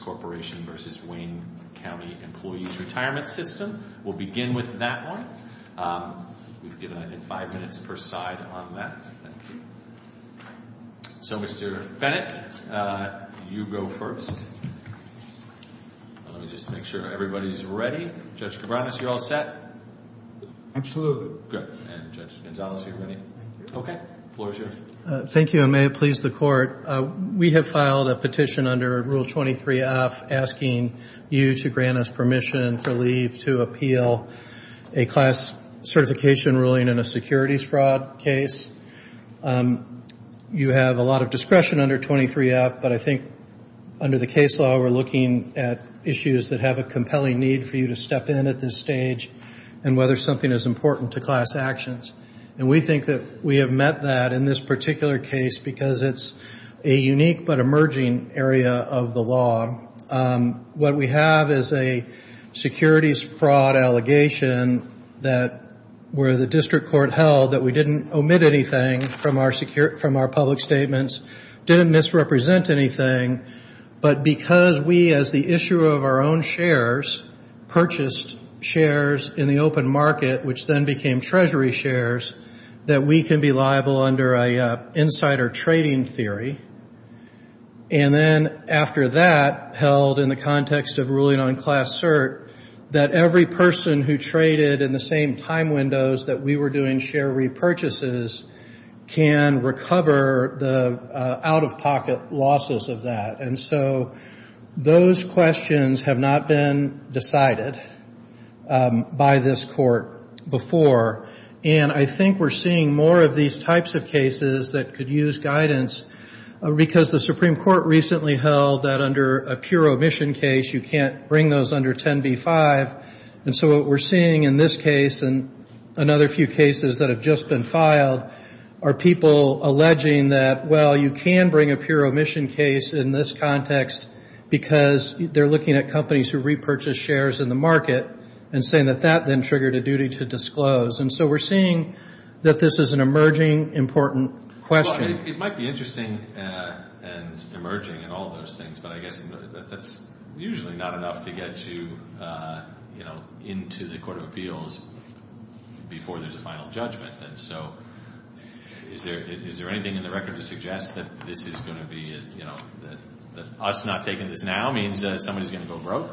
Corporation v. Wayne County Employees Retirement System. We'll begin with that one. We've given I think five minutes per side on that. Thank you. So Mr. Bennett, you go first. Let me just make sure everybody's ready. Judge Cabranes, you're all set? Absolutely. Good. And Judge Gonzales, you're ready? I'm ready. Okay. The floor is yours. Thank you. And may it please the Court, we have filed a petition under Rule 23F asking you to grant us permission for leave to appeal a class certification ruling in a securities fraud case. You have a lot of discretion under 23F, but I think under the case law we're looking at issues that have a compelling need for you to step in at this stage and whether something is important to class actions. And we think that we have met that in this particular case because it's a unique but emerging area of the law. What we have is a securities fraud allegation that where the district court held that we didn't omit anything from our public statements, didn't misrepresent anything, but because we as the issuer of our own shares purchased shares in the open market, which then became treasury shares, that we can be liable under an insider trading theory. And then after that held in the context of ruling on class cert, that every person who And so those questions have not been decided by this Court before. And I think we're seeing more of these types of cases that could use guidance because the Supreme Court recently held that under a pure omission case you can't bring those under 10b-5. And so what we're seeing in this filed are people alleging that, well, you can bring a pure omission case in this context because they're looking at companies who repurchase shares in the market and saying that that then triggered a duty to disclose. And so we're seeing that this is an emerging, important question. It might be interesting and emerging and all those things, but I guess that's usually not enough to get you into the Court of Appeals before there's a final judgment. And so is there anything in the record to suggest that this is going to be, that us not taking this now means that somebody's going to go broke?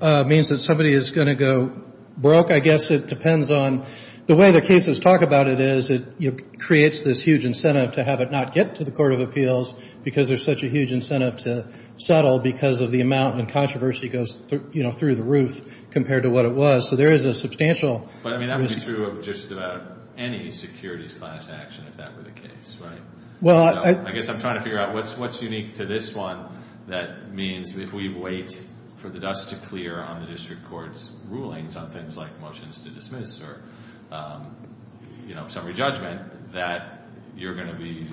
It means that somebody is going to go broke. I guess it depends on the way the cases talk about it is it creates this huge incentive to have it not get to the Court of Appeals because there's such a huge incentive to settle because of the amount and controversy goes through the roof compared to what it was. So there is a substantial... But I mean that would be true of just about any securities class action if that were the case, right? I guess I'm trying to figure out what's unique to this one that means if we wait for the dust to clear on the district court's rulings on things like motion to dismiss or summary judgment that you're going to be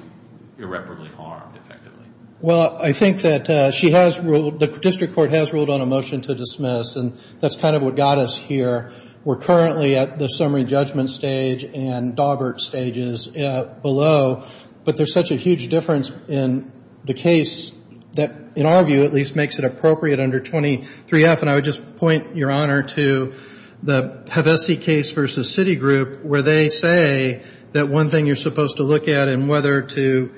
irreparably harmed effectively. Well, I think that she has ruled, the district court has ruled on a motion to dismiss and that's kind of what got us here. We're currently at the summary judgment stage and Dawbert stages below, but there's such a huge difference in the case that, in our view, at least makes it appropriate under 23F. And I would just point your honor to the Hevesi case versus Citigroup where they say that one thing you're supposed to look at in whether to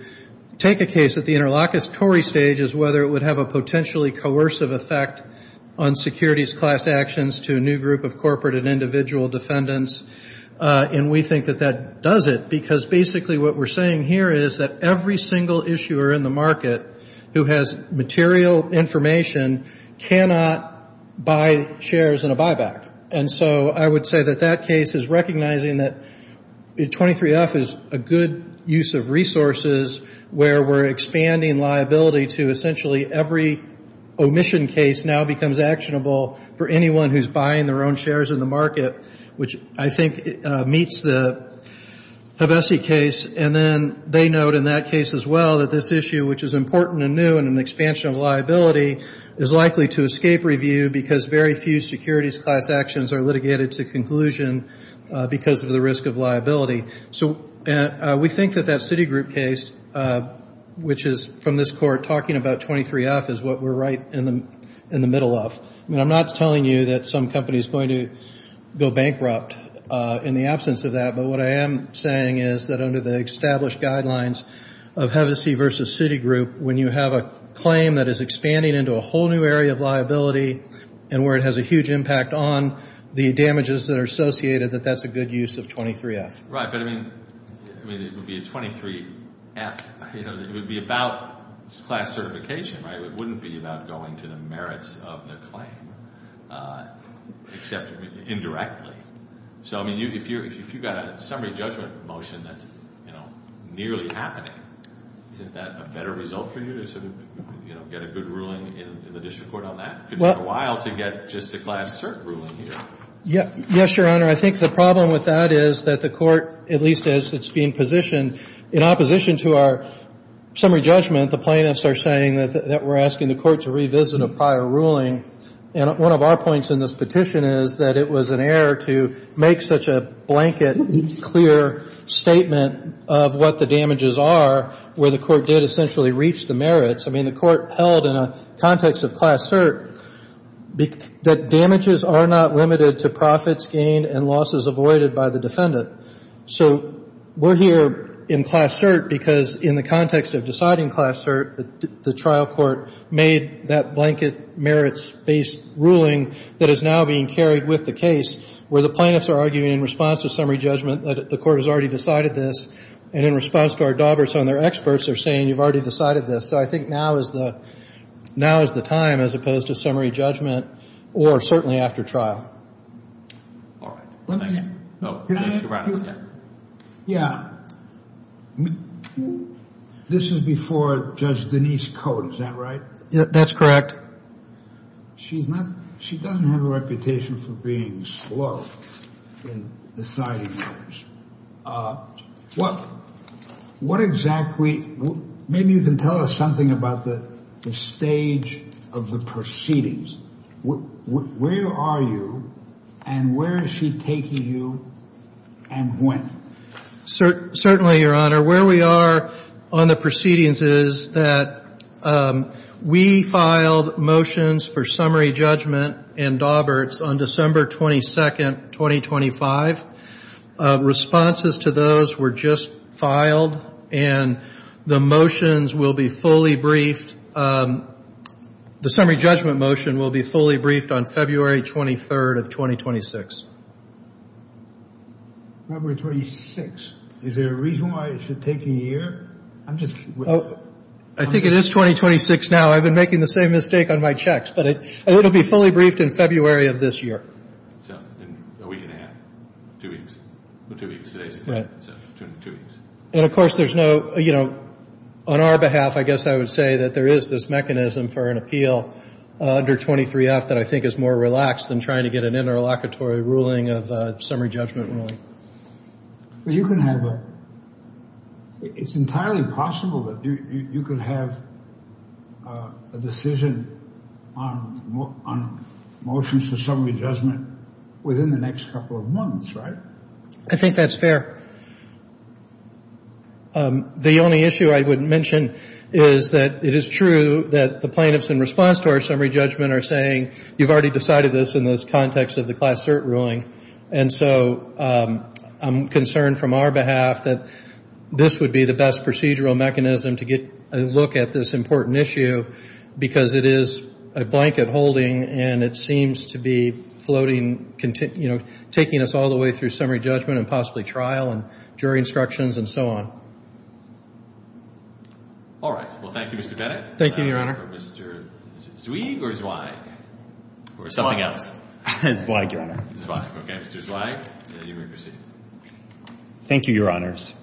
take a case at the interlocutory stage is whether it would have a potentially coercive effect on securities class actions to a new group of corporate and individual defendants. And we think that that does it because basically what we're saying here is that every single issuer in the market who has material information cannot buy shares in a buyback. And so I would say that that case is recognizing that 23F is a good use of resources where we're expanding liability to essentially every omission case now becomes actionable for anyone who's buying their own shares in the market, which I think meets the Hevesi case. And then they note in that case as well that this issue, which is important and new in an expansion of liability, is likely to escape review because very few securities class actions are litigated to conclusion because of the risk of liability. So we think that that Citigroup case, which is from this court talking about 23F, is what we're right in the middle of. I'm not telling you that some of the established guidelines of Hevesi versus Citigroup, when you have a claim that is expanding into a whole new area of liability and where it has a huge impact on the damages that are associated, that that's a good use of 23F. Right. But, I mean, it would be a 23F. It would be about class certification, right? It wouldn't be about going to the merits of the claim, except indirectly. So, I mean, if you've got a summary judgment motion that's nearly happening, isn't that a better result for you to sort of get a good ruling in the district court on that? It could take a while to get just a class cert ruling here. Yes, Your Honor. I think the problem with that is that the court, at least as it's being positioned, in opposition to our summary judgment, the plaintiffs are saying that we're asking the court to revisit a prior ruling. And one of our points in this petition is that, you know, that it was an error to make such a blanket, clear statement of what the damages are where the court did essentially reach the merits. I mean, the court held in a context of class cert that damages are not limited to profits gained and losses avoided by the defendant. So we're here in class cert because in the context of deciding class cert, the trial court made that blanket merits-based ruling that is now being carried with the case, where the plaintiffs are arguing in response to summary judgment that the court has already decided this, and in response to our daubers on their experts, they're saying you've already decided this. So I think now is the time, as opposed to summary judgment or certainly after trial. All right. Let me... No, please, Your Honor. Yeah. This is before Judge Denise Cote, is that right? That's correct. She doesn't have a reputation for being slow in deciding matters. What exactly... Maybe you can tell us something about the stage of the proceedings. Where are you, and where is she taking you, and when? Certainly, Your Honor. Where we are on the proceedings is that we filed motions for summary judgment and daubers on December 22nd, 2025. Responses to those were just filed, and the motions will be fully briefed. The summary judgment motion will be fully briefed on February 23rd of 2026. February 26th. Is there a reason why it should take a year? I'm just... I think it is 2026 now. I've been making the same mistake on my checks, but it will be fully briefed in February of this year. So a week and a half. Two weeks. Two weeks. Today's the day. So two weeks. And, of course, there's no... On our behalf, I guess I would say that there is this mechanism for an appeal under 23-F that I think is more relaxed than trying to get an interlocutory ruling of summary judgment ruling. You can have a... It's entirely possible that you could have a decision on motions for summary judgment within the next couple of months, right? I think that's fair. The only issue I would mention is that it is true that the plaintiffs, in response to our summary judgment, are saying, you've already decided this in this context of the Class Cert ruling, and so I'm concerned from our behalf that this would be the best procedure or mechanism to get a look at this important issue, because it is a blanket holding, and it seems to be floating, you know, taking us all the way through summary judgment and possibly trial and jury instructions and so on. All right. Well, thank you, Mr. Bennett. Thank you, Your Honor. For Mr. Zweig or Zweig, or something else? Zweig, Your Honor. Zweig. Okay. Mr. Zweig, you may proceed. Thank you, Your Honors.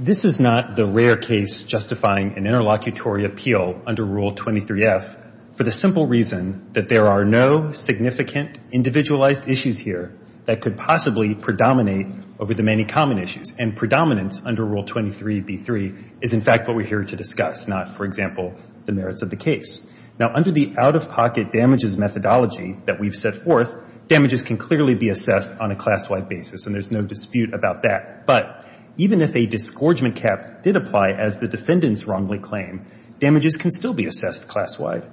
This is not the rare case justifying an interlocutory appeal under Rule 23F for the simple reason that there are no significant individualized issues here that could possibly predominate over the many common issues, and predominance under Rule 23B3 is, in fact, what we're here to discuss, not, for example, the merits of the case. Now, under the out-of-pocket damages methodology that we've set forth, damages can clearly be assessed on a class-wide basis, and there's no dispute about that. But even if a disgorgement cap did apply as the defendants wrongly claim, damages can still be assessed class-wide.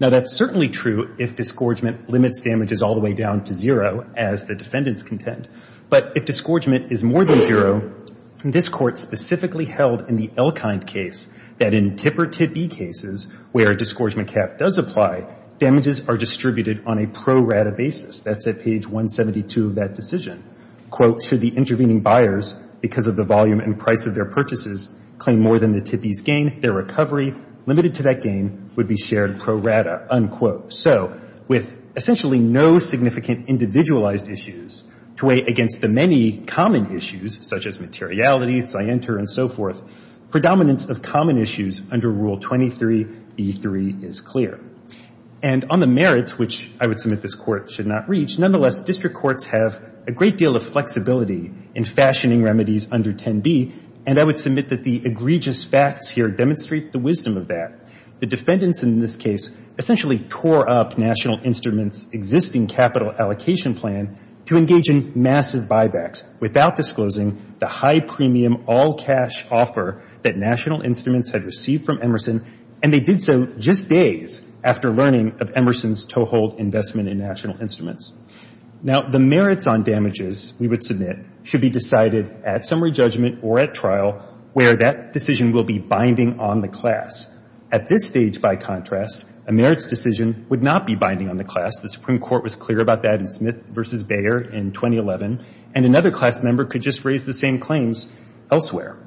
Now, that's certainly true if disgorgement limits damages all the way down to zero, as the defendants contend. But if disgorgement is more than zero, this Court specifically held in the Elkind case that in super-TIP-E cases where a disgorgement cap does apply, damages are distributed on a pro-rata basis. That's at page 172 of that decision. Quote, should the intervening buyers, because of the volume and price of their purchases, claim more than the TIP-E's gain, their recovery, limited to that gain, would be shared pro-rata, unquote. So with essentially no significant individualized issues to weigh against the many common issues, such as materiality, scienter, and so forth, predominance of common issues under Rule 23b3 is clear. And on the merits, which I would submit this Court should not reach, nonetheless, district courts have a great deal of flexibility in fashioning remedies under 10b, and I would submit that the egregious facts here demonstrate the wisdom of that. The defendants in this case essentially tore up National Instruments' existing capital allocation plan to engage in massive buybacks without disclosing the high premium all-cash offer that National Instruments had received from Emerson, and they did so just days after learning of Emerson's toehold investment in National Instruments. Now, the merits on damages we would submit should be decided at summary judgment or at trial where that decision will be binding on the class. At this stage, by contrast, a merits decision would not be binding on the class. The Supreme Court was clear about that in Smith v. Bayer in 2011, and another class member could just raise the same claims elsewhere.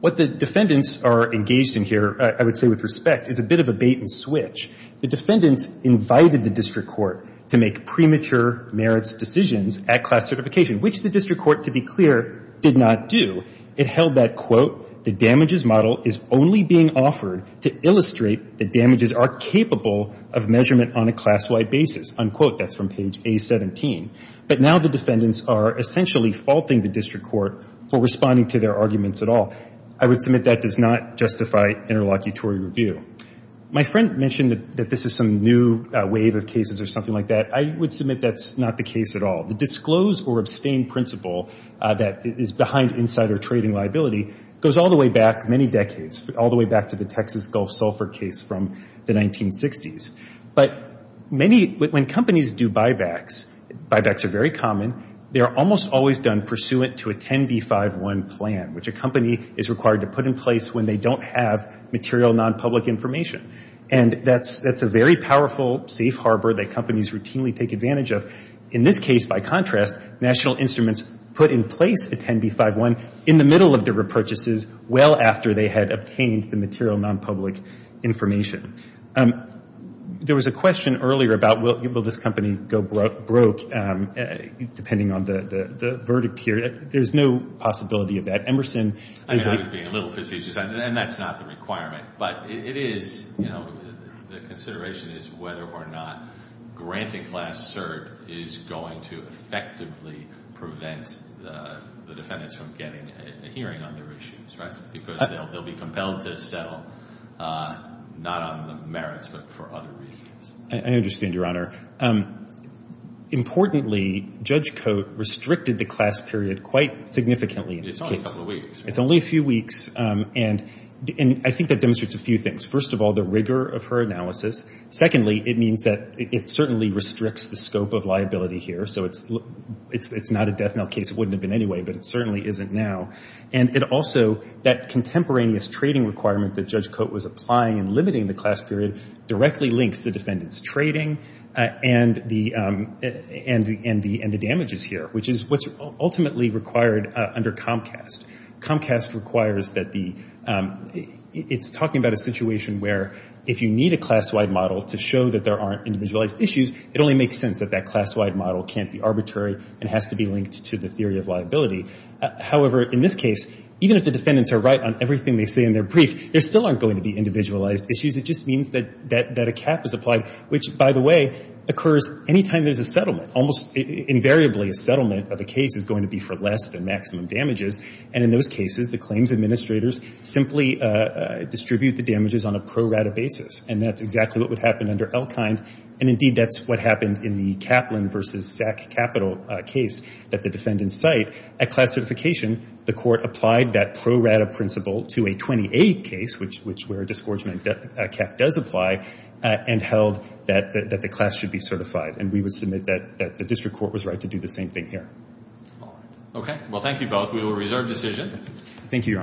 What the defendants are engaged in here, I would say with respect, is a bit of a bait-and-switch. The defendants invited the district court to make premature merits decisions at class certification, which the district court, to be clear, did not do. It said that damages are capable of measurement on a class-wide basis. That's from page A-17. But now the defendants are essentially faulting the district court for responding to their arguments at all. I would submit that does not justify interlocutory review. My friend mentioned that this is some new wave of cases or something like that. I would submit that's not the case at all. The disclose or abstain principle that is behind insider trading liability goes all the way back many decades, all the way back to the Texas Gulf Sulphur case from the 1960s. But when companies do buybacks, buybacks are very common, they are almost always done pursuant to a 10b-5-1 plan, which a company is required to put in place when they don't have material nonpublic information. That's a very powerful safe harbor that companies routinely take advantage of. In this case, by the way, it was a 10b-5-1 in the middle of their repurchases, well after they had obtained the material nonpublic information. There was a question earlier about will this company go broke, depending on the verdict here. There's no possibility of that. Emerson is a little facetious, and that's not the requirement. But it is, you know, the consideration is whether or not granting class cert is going to effectively prevent the defendants from getting a hearing on their issues, right? Because they'll be compelled to settle not on the merits, but for other reasons. I understand, Your Honor. Importantly, Judge Coate restricted the class period quite significantly. It's only a couple of weeks. It's only a few weeks, and I think that demonstrates a few things. First of all, the rigor of her analysis. Secondly, it means that it is not a death knell case. It wouldn't have been anyway, but it certainly isn't now. And it also, that contemporaneous trading requirement that Judge Coate was applying and limiting the class period directly links the defendant's trading and the damages here, which is what's ultimately required under Comcast. Comcast requires that the, it's talking about a situation where if you need a class-wide model to show that there is no case, you can't just do that. And that's a case where the defendant's claim is necessary and has to be linked to the theory of liability. However, in this case, even if the defendants are right on everything they say in their brief, there still aren't going to be individualized issues. It just means that a cap is applied, which, by the way, occurs any time there's a settlement. Almost invariably, a settlement of a case is going to be for less than maximum damages. And in those cases, the claims administrators simply distribute the damages on a pro rata basis. And that's exactly what would happen under Elkind. And indeed, that's what happened in the Kaplan v. Sack Capital case that the defendants cite. At class certification, the court applied that pro rata principle to a 28 case, which where a disgorgement cap does apply, and held that the class should be certified. And we would submit that the district court was right to do the same thing here.